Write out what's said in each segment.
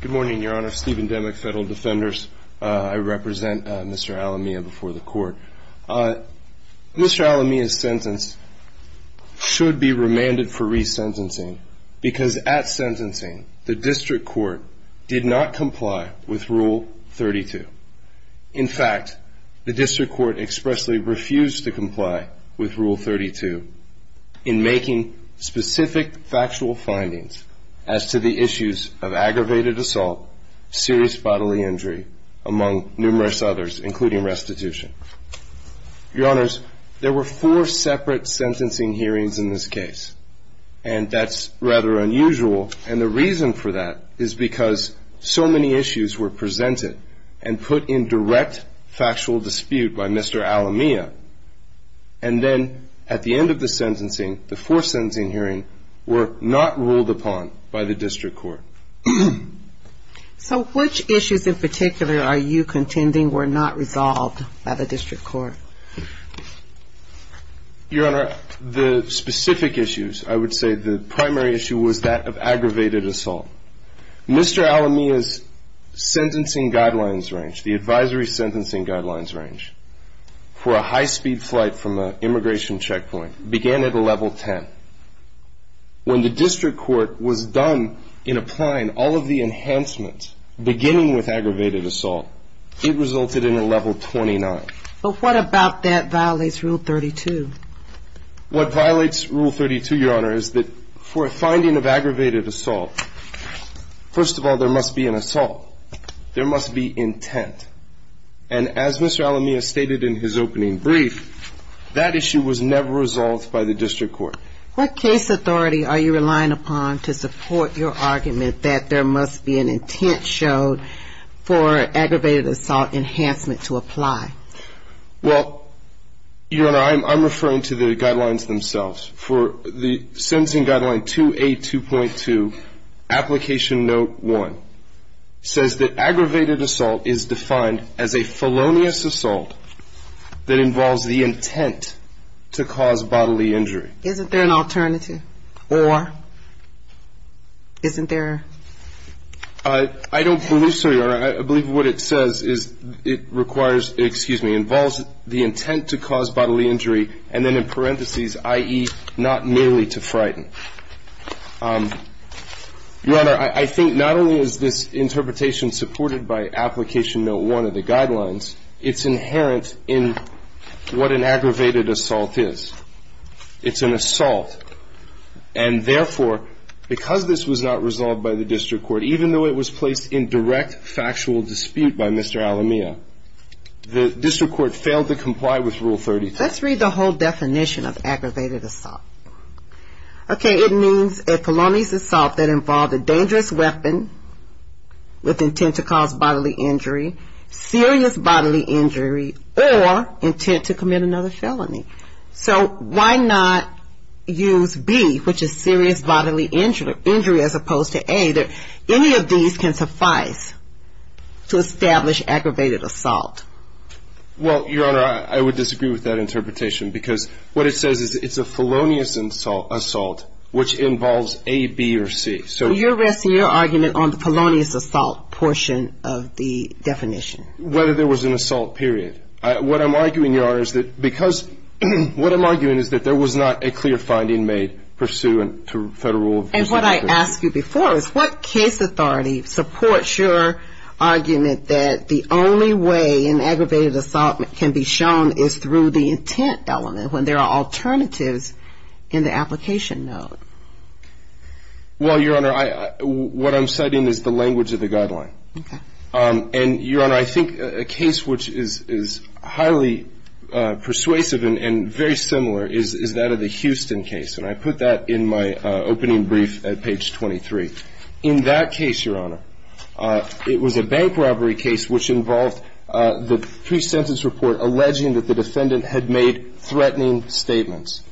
Good morning, Your Honor. Stephen Demick, Federal Defenders. I represent Mr. Alamilla before the Court. Mr. Alamilla's sentence should be remanded for resentencing because at sentencing, the District Court did not comply with Rule 32. In fact, the District Court expressly refused to comply with Rule 32 in making specific factual findings as to the issues of aggravated assault, serious bodily injury, among numerous others, including restitution. Your Honors, there were four separate sentencing hearings in this case, and that's rather unusual. And the reason for that is because so many issues were presented and put in direct factual dispute by Mr. Alamilla. And then at the end of the sentencing, the four sentencing hearings were not ruled upon by the District Court. So which issues in particular are you contending were not resolved by the District Court? Your Honor, the specific issues, I would say the primary issue was that of aggravated assault. Mr. Alamilla's sentencing guidelines range, the advisory sentencing guidelines range for a high-speed flight from an immigration checkpoint began at a level 10. When the District Court was done in applying all of the enhancements, beginning with aggravated assault, it resulted in a level 29. But what about that violates Rule 32? What violates Rule 32, Your Honor, is that for a finding of aggravated assault, first of all, there must be an assault. There must be intent. And as Mr. Alamilla stated in his opening brief, that issue was never resolved by the District Court. What case authority are you relying upon to support your argument that there must be an intent showed for aggravated assault enhancement to apply? Well, Your Honor, I'm referring to the guidelines themselves. For the sentencing guideline 2A.2.2, application note 1 says that or isn't there? I don't believe so, Your Honor. I believe what it says is it requires, excuse me, involves the intent to cause bodily injury and then in parentheses, i.e., not merely to frighten. Your Honor, I think not only is this interpretation supported by application note 1 of the guidelines, it's inherent in what an aggravated assault is. It's an assault. And therefore, because this was not resolved by the District Court, even though it was placed in direct factual dispute by Mr. Alamilla, the District Court failed to comply with Rule 32. Let's read the whole definition of aggravated assault. Okay, it means a felonious assault that involved a dangerous weapon with intent to cause bodily injury, serious bodily injury, or intent to commit another felony. So why not use B, which is serious bodily injury, as opposed to A? Any of these can suffice to establish aggravated assault. Well, Your Honor, I would disagree with that interpretation, because what it says is it's a felonious assault, which involves A, B, or C. So you're resting your argument on the felonious assault portion of the definition. Whether there was an assault, period. What I'm arguing, Your Honor, is that because what I'm arguing is that there was not a clear finding made pursuant to federal rules. And what I asked you before is, what case authority supports your argument that the only way an aggravated assault can be shown is through the intent element, when there are alternatives in the application note? Well, Your Honor, what I'm citing is the language of the guideline. Okay. And, Your Honor, I think a case which is highly persuasive and very similar is that of the Houston case. And I put that in my opening brief at page 23. In that case, Your Honor, it was a bank robbery case which involved the pre-sentence report alleging that the defendant had made threatening statements.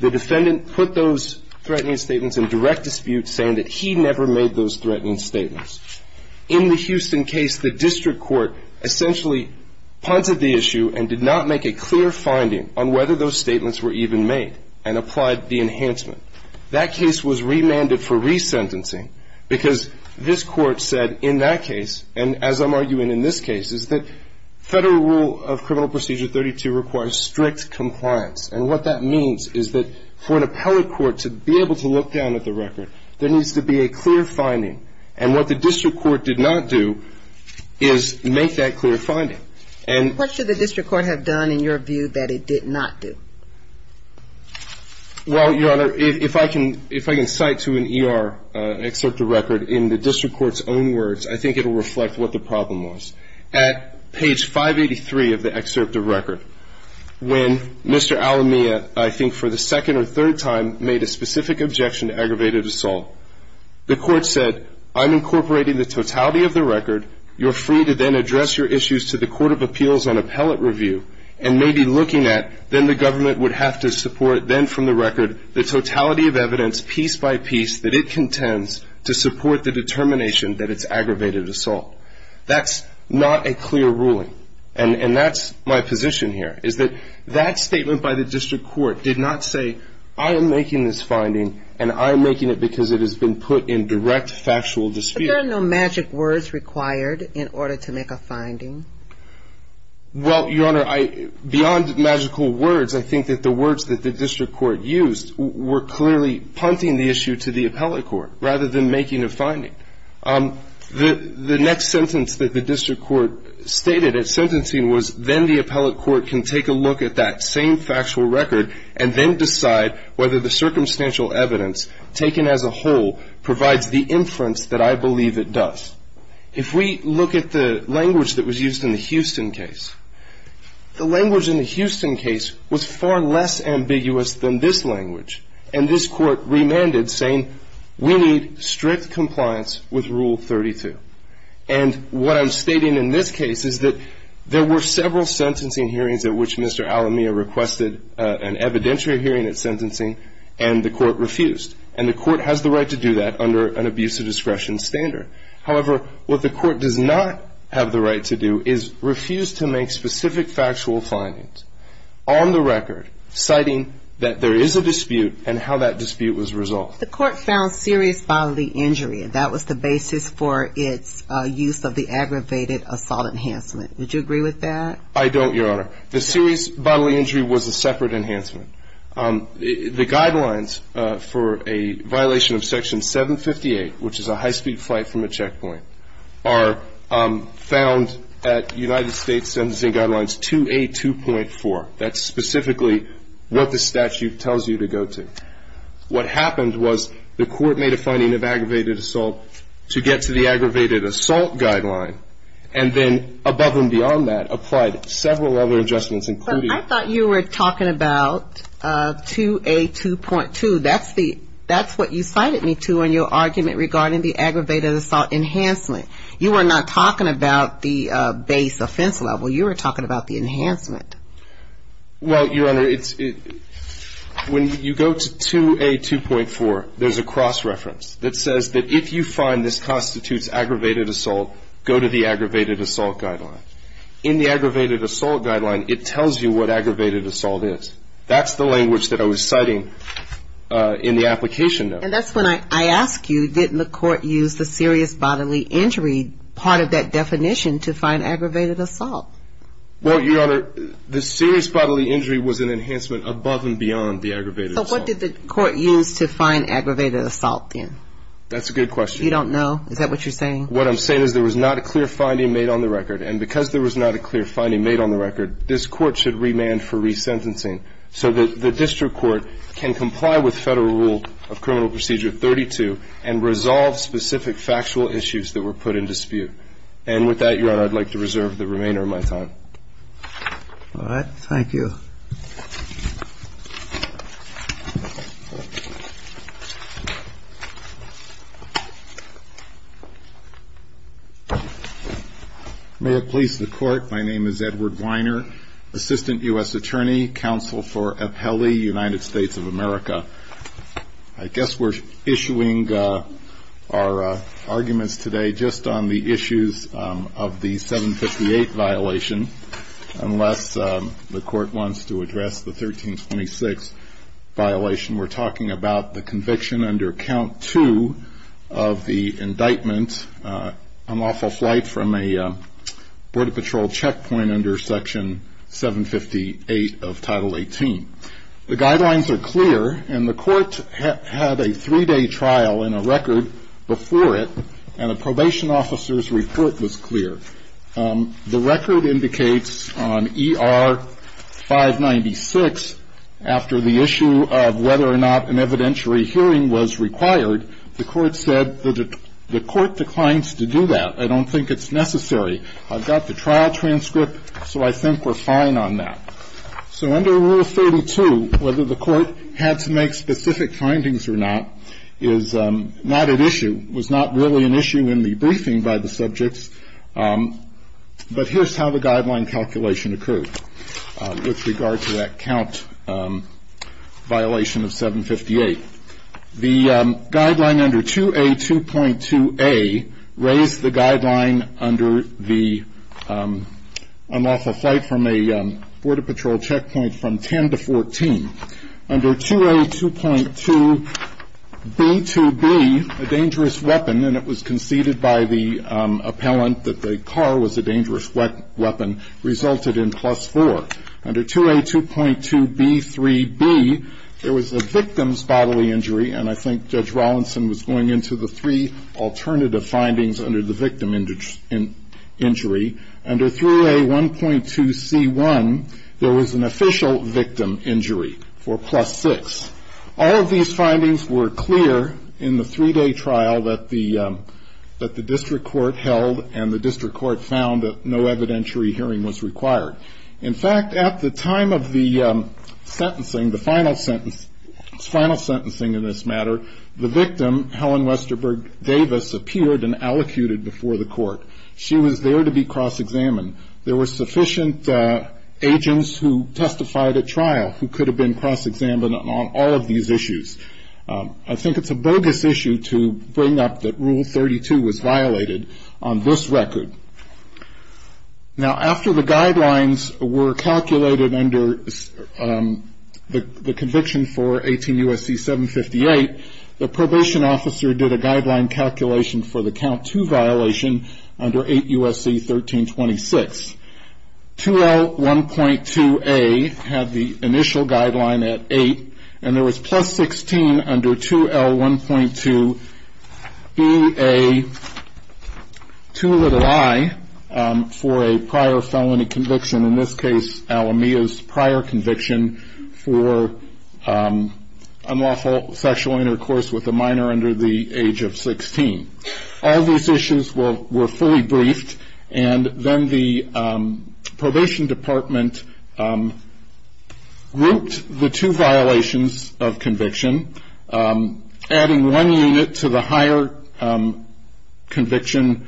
The defendant put those threatening statements in direct dispute, saying that he never made those threatening statements. In the Houston case, the district court essentially punted the issue and did not make a clear finding on whether those statements were even made and applied the enhancement. That case was remanded for resentencing because this Court said in that case, and as I'm arguing in this case, is that federal rule of criminal procedure 32 requires strict compliance. And what that means is that for an appellate court to be able to look down at the record, there needs to be a clear finding. And what the district court did not do is make that clear finding. And what should the district court have done in your view that it did not do? Well, Your Honor, if I can cite to an ER excerpt of record in the district court's own words, I think it will reflect what the problem was. At page 583 of the excerpt of record, when Mr. Alamia, I think for the second or third time, made a specific objection to aggravated assault, the court said, I'm incorporating the totality of the record. You're free to then address your issues to the Court of Appeals on appellate review. And maybe looking at, then the government would have to support, then from the record, the totality of evidence piece by piece that it contends to support the determination that it's aggravated assault. That's not a clear ruling. And that's my position here, is that that statement by the district court did not say, I am making this finding and I am making it because it has been put in direct factual dispute. Were there no magic words required in order to make a finding? Well, Your Honor, beyond magical words, I think that the words that the district court used were clearly punting the issue to the appellate court, rather than making a finding. The next sentence that the district court stated at sentencing was, then the appellate court can take a look at that same factual record and then decide whether the circumstantial evidence taken as a whole provides the inference that I believe it does. If we look at the language that was used in the Houston case, the language in the Houston case was far less ambiguous than this language. And this court remanded, saying, we need strict compliance with Rule 32. And what I'm stating in this case is that there were several sentencing hearings at which Mr. Alamia requested an evidentiary hearing at sentencing and the court refused. And the court has the right to do that under an abuse of discretion standard. However, what the court does not have the right to do is refuse to make specific factual findings on the record, citing that there is a dispute and how that dispute was resolved. The court found serious bodily injury. That was the basis for its use of the aggravated assault enhancement. Would you agree with that? I don't, Your Honor. The serious bodily injury was a separate enhancement. The guidelines for a violation of Section 758, which is a high-speed flight from a checkpoint, are found at United States Sentencing Guidelines 2A2.4. That's specifically what the statute tells you to go to. What happened was the court made a finding of aggravated assault to get to the aggravated assault guideline and then, above and beyond that, applied several other adjustments, including- But I thought you were talking about 2A2.2. That's what you cited me to in your argument regarding the aggravated assault enhancement. You were not talking about the base offense level. You were talking about the enhancement. Well, Your Honor, when you go to 2A2.4, there's a cross-reference that says that if you find this constitutes aggravated assault, go to the aggravated assault guideline. In the aggravated assault guideline, it tells you what aggravated assault is. That's the language that I was citing in the application note. And that's when I ask you, didn't the court use the serious bodily injury part of that definition to find aggravated assault? Well, Your Honor, the serious bodily injury was an enhancement above and beyond the aggravated assault. So what did the court use to find aggravated assault then? That's a good question. You don't know? Is that what you're saying? What I'm saying is there was not a clear finding made on the record. And because there was not a clear finding made on the record, this Court should remand for resentencing so that the district court can comply with Federal Rule of Criminal Procedure 32 and resolve specific factual issues that were put in dispute. And with that, Your Honor, I'd like to reserve the remainder of my time. All right. Thank you. Thank you, Your Honor. May it please the Court, my name is Edward Weiner, Assistant U.S. Attorney, Counsel for Appellee, United States of America. I guess we're issuing our arguments today just on the issues of the 758 violation, unless the Court wants to address the 1326 violation. We're talking about the conviction under Count 2 of the indictment, unlawful flight from a Border Patrol checkpoint under Section 758 of Title 18. The guidelines are clear, and the Court had a three-day trial and a record before it, and a probation officer's report was clear. The record indicates on ER-596, after the issue of whether or not an evidentiary hearing was required, the Court said that the Court declines to do that. I don't think it's necessary. I've got the trial transcript, so I think we're fine on that. So under Rule 32, whether the Court had to make specific findings or not is not at issue, was not really an issue in the briefing by the subjects. But here's how the guideline calculation occurred with regard to that count violation of 758. The guideline under 2A.2.2A raised the guideline under the unlawful flight from a Border Patrol checkpoint from 10 to 14. Under 2A.2.2B.2.B, a dangerous weapon, and it was conceded by the appellant that the car was a dangerous weapon, resulted in plus four. Under 2A.2.2B.3.B, there was a victim's bodily injury, and I think Judge Rawlinson was going into the three alternative findings under the victim injury. Under 3A.1.2C.1, there was an official victim injury for plus six. All of these findings were clear in the three-day trial that the district court held, and the district court found that no evidentiary hearing was required. In fact, at the time of the sentencing, the final sentence, final sentencing in this matter, the victim, Helen Westerberg Davis, appeared and allocuted before the court. She was there to be cross-examined. There were sufficient agents who testified at trial who could have been cross-examined on all of these issues. I think it's a bogus issue to bring up that Rule 32 was violated on this record. Now, after the guidelines were calculated under the conviction for 18 U.S.C. 758, the probation officer did a guideline calculation for the count two violation under 8 U.S.C. 1326. 2L.1.2A had the initial guideline at eight, and there was plus 16 under 2L.1.2B.A.2i for a prior felony conviction, in this case, Alameda's prior conviction for unlawful sexual intercourse with a minor under the age of 16. All these issues were fully briefed, and then the probation department grouped the two violations of conviction, adding one unit to the higher conviction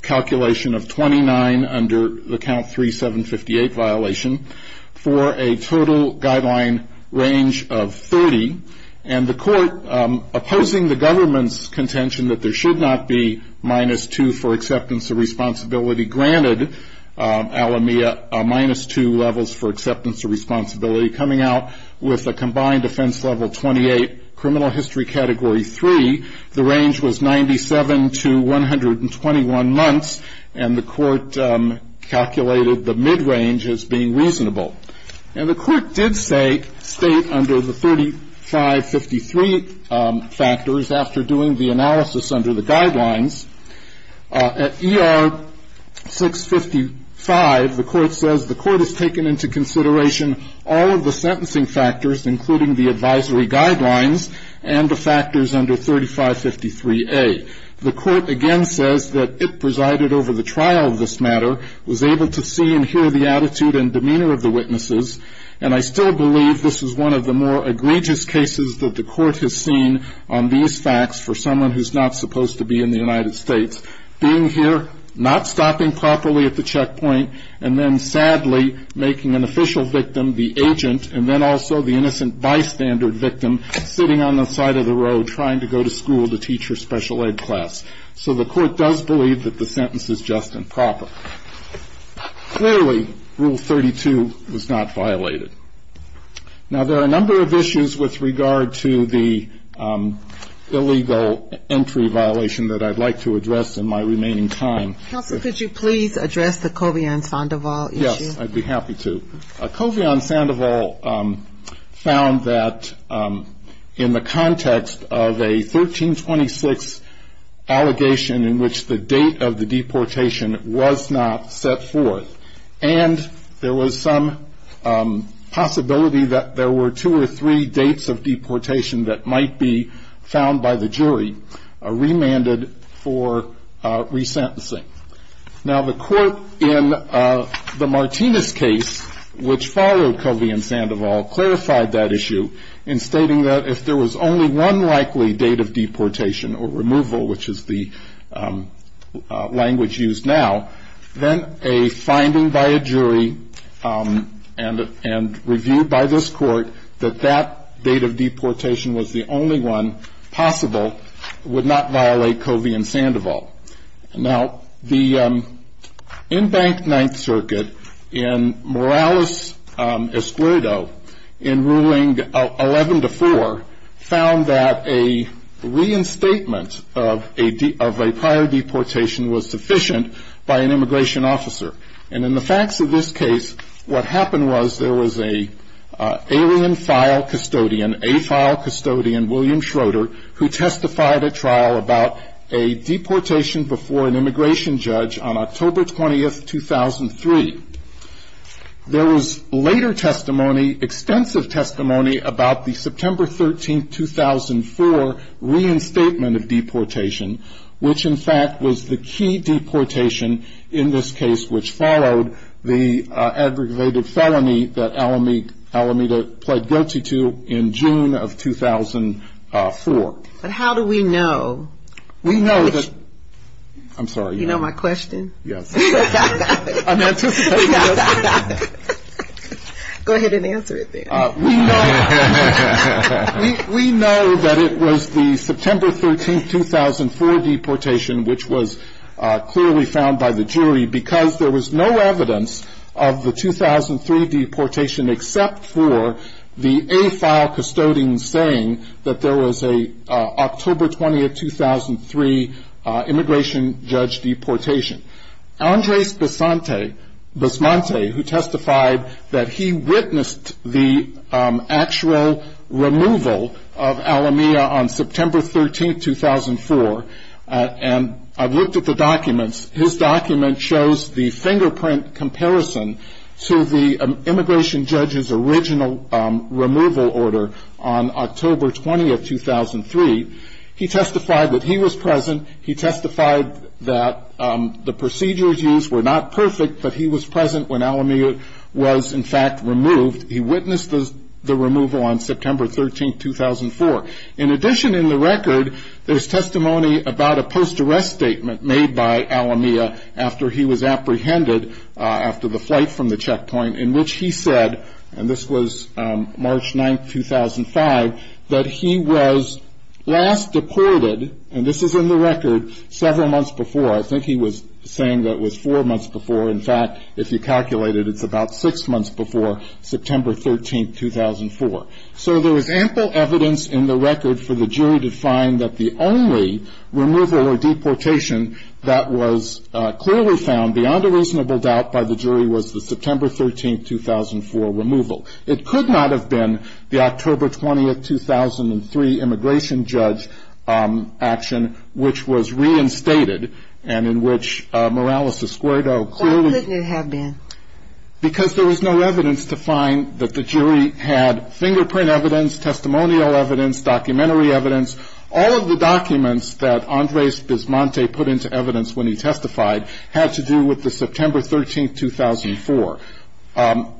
calculation of 29 under the count 3758 violation, for a total guideline range of 30. And the court, opposing the government's contention that there should not be minus two for acceptance of responsibility, granted Alameda minus two levels for acceptance of responsibility, coming out with a combined offense level 28, criminal history category three. The range was 97 to 121 months, and the court calculated the mid-range as being reasonable. And the court did state under the 3553 factors, after doing the analysis under the guidelines, At ER 655, the court says the court has taken into consideration all of the sentencing factors, including the advisory guidelines and the factors under 3553A. The court again says that it presided over the trial of this matter, was able to see and hear the attitude and demeanor of the witnesses, and I still believe this is one of the more egregious cases that the court has seen on these facts for someone who's not supposed to be in the United States, being here, not stopping properly at the checkpoint, and then sadly making an official victim the agent, and then also the innocent bystander victim sitting on the side of the road trying to go to school to teach her special ed class. So the court does believe that the sentence is just and proper. Clearly, Rule 32 was not violated. Now, there are a number of issues with regard to the illegal entry violation that I'd like to address in my remaining time. Counsel, could you please address the Kovian-Sandoval issue? Yes, I'd be happy to. Kovian-Sandoval found that in the context of a 1326 allegation in which the date of the deportation was not set forth, and there was some possibility that there were two or three dates of deportation that might be found by the jury remanded for resentencing. Now, the court in the Martinez case, which followed Kovian-Sandoval, clarified that issue in stating that if there was only one likely date of deportation or removal, which is the language used now, then a finding by a jury and review by this court that that date of deportation was the only one possible would not violate Kovian-Sandoval. Now, the in-bank Ninth Circuit in Morales-Escuerdo in Ruling 11-4 found that a reinstatement of a prior deportation was sufficient by an immigration officer. And in the facts of this case, what happened was there was an alien file custodian, a file custodian, William Schroeder, who testified at trial about a deportation before an immigration judge on October 20, 2003. There was later testimony, extensive testimony about the September 13, 2004, reinstatement of deportation, which, in fact, was the key deportation in this case, which followed the aggravated felony that Alameda pled guilty to in June of 2004. But how do we know? We know that, I'm sorry. You know my question? Yes. Go ahead and answer it then. We know that it was the September 13, 2004 deportation, which was clearly found by the jury because there was no evidence of the 2003 deportation except for the A file custodian saying that there was an October 20, 2003, immigration judge deportation. Andres Basmante, who testified that he witnessed the actual removal of Alameda on September 13, 2004, and I've looked at the documents. His document shows the fingerprint comparison to the immigration judge's original removal order on October 20, 2003. He testified that he was present. He testified that the procedures used were not perfect, but he was present when Alameda was, in fact, removed. He witnessed the removal on September 13, 2004. In addition, in the record, there's testimony about a post-arrest statement made by Alameda after he was apprehended after the flight from the checkpoint in which he said, and this was March 9, 2005, that he was last deported, and this is in the record, several months before. I think he was saying that it was four months before. In fact, if you calculate it, it's about six months before September 13, 2004. So there was ample evidence in the record for the jury to find that the only removal or deportation that was clearly found beyond a reasonable doubt by the jury was the September 13, 2004 removal. It could not have been the October 20, 2003 immigration judge action, which was reinstated, and in which Morales-Escuerdo clearly- Why couldn't it have been? Because there was no evidence to find that the jury had fingerprint evidence, testimonial evidence, documentary evidence. All of the documents that Andres Bismonte put into evidence when he testified had to do with the September 13, 2004.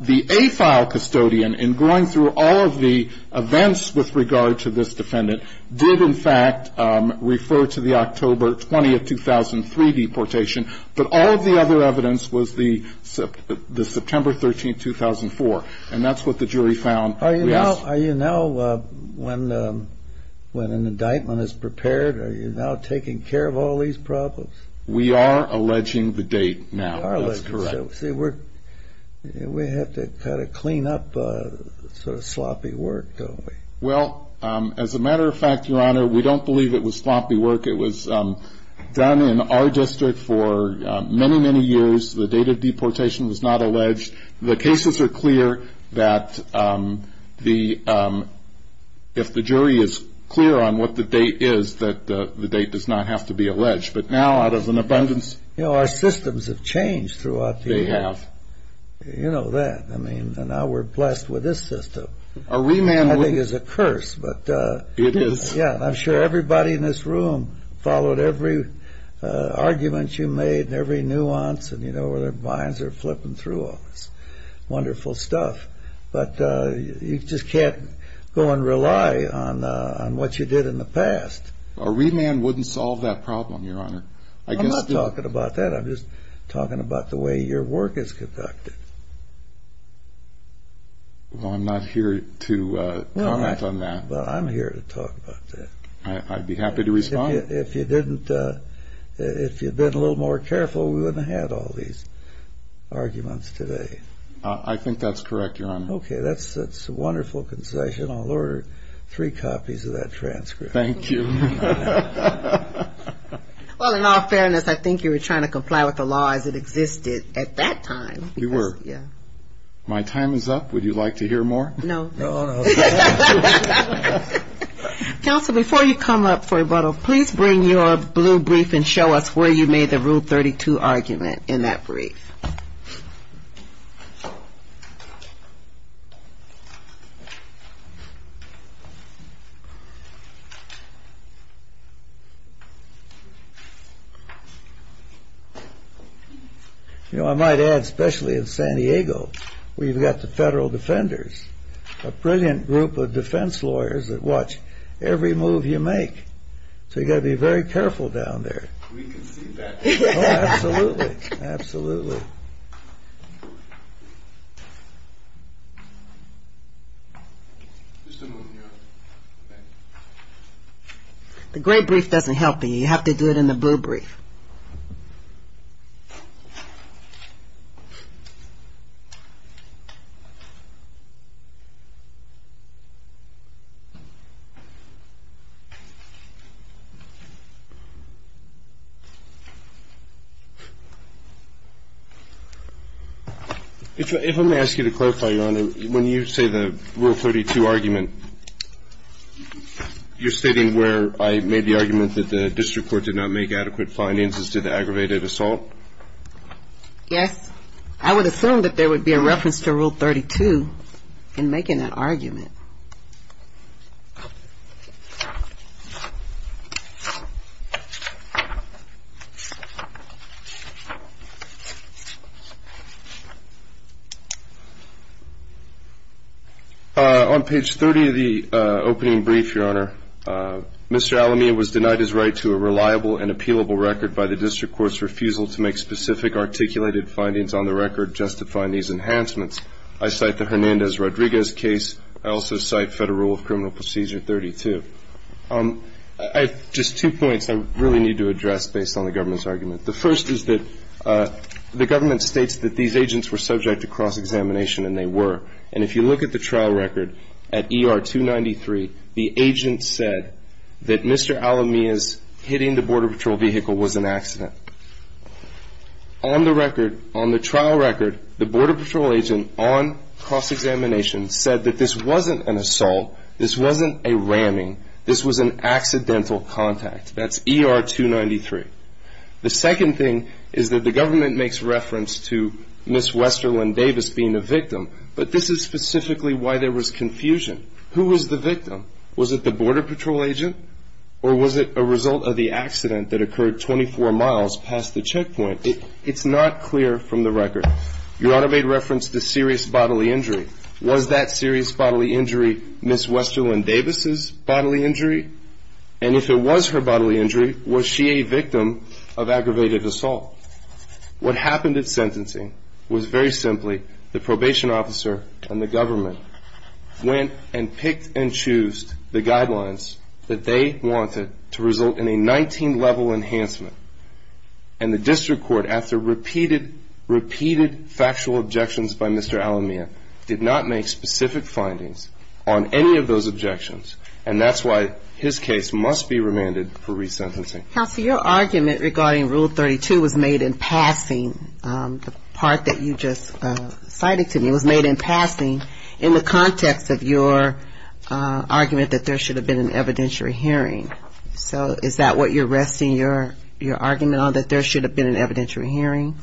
The AFILE custodian, in going through all of the events with regard to this defendant, did in fact refer to the October 20, 2003 deportation, but all of the other evidence was the September 13, 2004, and that's what the jury found. Are you now, when an indictment is prepared, are you now taking care of all these problems? We are alleging the date now. That's correct. We have to kind of clean up sort of sloppy work, don't we? Well, as a matter of fact, Your Honor, we don't believe it was sloppy work. It was done in our district for many, many years. The date of deportation was not alleged. The cases are clear that if the jury is clear on what the date is, that the date does not have to be alleged. But now, out of an abundance... You know, our systems have changed throughout the years. They have. You know that. I mean, now we're blessed with this system. A remand would... I think it's a curse, but... It is. Yeah, I'm sure everybody in this room followed every argument you made and every nuance, and, you know, their minds are flipping through all this wonderful stuff. But you just can't go and rely on what you did in the past. A remand wouldn't solve that problem, Your Honor. I'm not talking about that. I'm just talking about the way your work is conducted. Well, I'm not here to comment on that. Well, I'm here to talk about that. I'd be happy to respond. If you'd been a little more careful, we wouldn't have had all these arguments today. I think that's correct, Your Honor. Okay, that's a wonderful concession. I'll order three copies of that transcript. Thank you. Well, in all fairness, I think you were trying to comply with the law as it existed at that time. You were. Yeah. My time is up. Would you like to hear more? No. Oh, no. Counsel, before you come up for rebuttal, please bring your blue brief and show us where you made the Rule 32 argument in that brief. You know, I might add, especially in San Diego, we've got the federal defenders, a brilliant group of defense lawyers that watch every move you make. So you've got to be very careful down there. We can see that. Oh, absolutely. Absolutely. The gray brief doesn't help me. You have to do it in the blue brief. If I may ask you to clarify, Your Honor, when you say the Rule 32 argument, you're stating where I made the argument that the district court did not make adequate finances to the aggravated assault? Yes. I would assume that there would be a reference to Rule 32 in making that argument. On page 30 of the opening brief, Your Honor, Mr. Alamea was denied his right to a reliable and appealable record by the district court's refusal to make specific articulated findings on the record justifying these enhancements. I cite the Hernandez-Rodriguez case. I also cite Federal Rule of Criminal Procedure 32. I have just two points I really need to address based on the government's argument. The first is that the government states that these agents were subject to cross-examination, and they were. And if you look at the trial record at ER 293, the agent said that Mr. Alamea's hitting the Border Patrol vehicle was an accident. On the record, on the trial record, the Border Patrol agent on cross-examination said that this wasn't an assault. This wasn't a ramming. This was an accidental contact. That's ER 293. The second thing is that the government makes reference to Ms. Westerlin Davis being the victim, but this is specifically why there was confusion. Who was the victim? Was it the Border Patrol agent, or was it a result of the accident that occurred 24 miles past the checkpoint? It's not clear from the record. Your Honor made reference to serious bodily injury. Was that serious bodily injury Ms. Westerlin Davis's bodily injury? And if it was her bodily injury, was she a victim of aggravated assault? What happened at sentencing was very simply the probation officer and the government went and picked and chose the guidelines that they wanted to result in a 19-level enhancement. And the district court, after repeated, repeated factual objections by Mr. Alamea, did not make specific findings on any of those objections, and that's why his case must be remanded for resentencing. Counsel, your argument regarding Rule 32 was made in passing. The part that you just cited to me was made in passing in the context of your argument that there should have been an evidentiary hearing. So is that what you're resting your argument on, that there should have been an evidentiary hearing?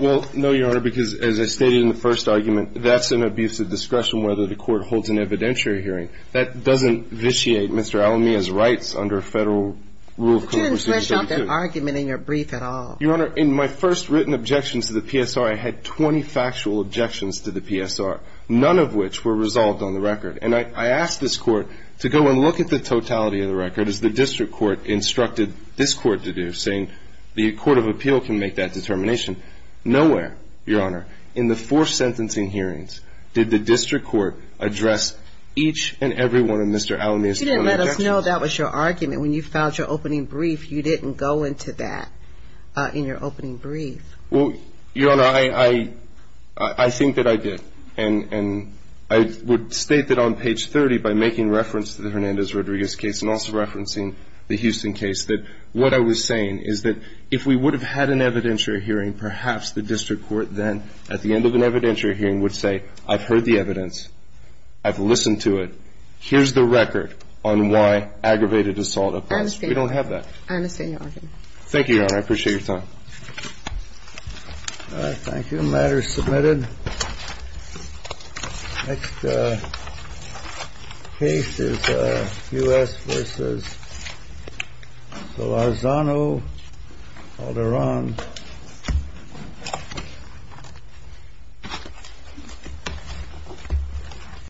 Well, no, Your Honor, because as I stated in the first argument, that's an abuse of discretion whether the court holds an evidentiary hearing. That doesn't vitiate Mr. Alamea's rights under Federal Rule 32. You didn't flesh out that argument in your brief at all. Your Honor, in my first written objections to the PSR, I had 20 factual objections to the PSR, none of which were resolved on the record. And I asked this Court to go and look at the totality of the record, as the district court instructed this Court to do, saying the Court of Appeal can make that determination. Nowhere, Your Honor, in the four sentencing hearings, did the district court address each and every one of Mr. Alamea's four objections. You didn't let us know that was your argument. When you filed your opening brief, you didn't go into that in your opening brief. Well, Your Honor, I think that I did. And I would state that on page 30, by making reference to the Hernandez-Rodriguez case and also referencing the Houston case, that what I was saying is that if we would have had an evidentiary hearing, perhaps the district court then, at the end of an evidentiary hearing, would say, I've heard the evidence. I've listened to it. Here's the record on why aggravated assault occurs. We don't have that. I understand your argument. Thank you, Your Honor. I appreciate your time. Thank you. The matter is submitted. Thank you. Thank you, Your Honor. Next case is U.S. v. Solorzano v. Alderaan.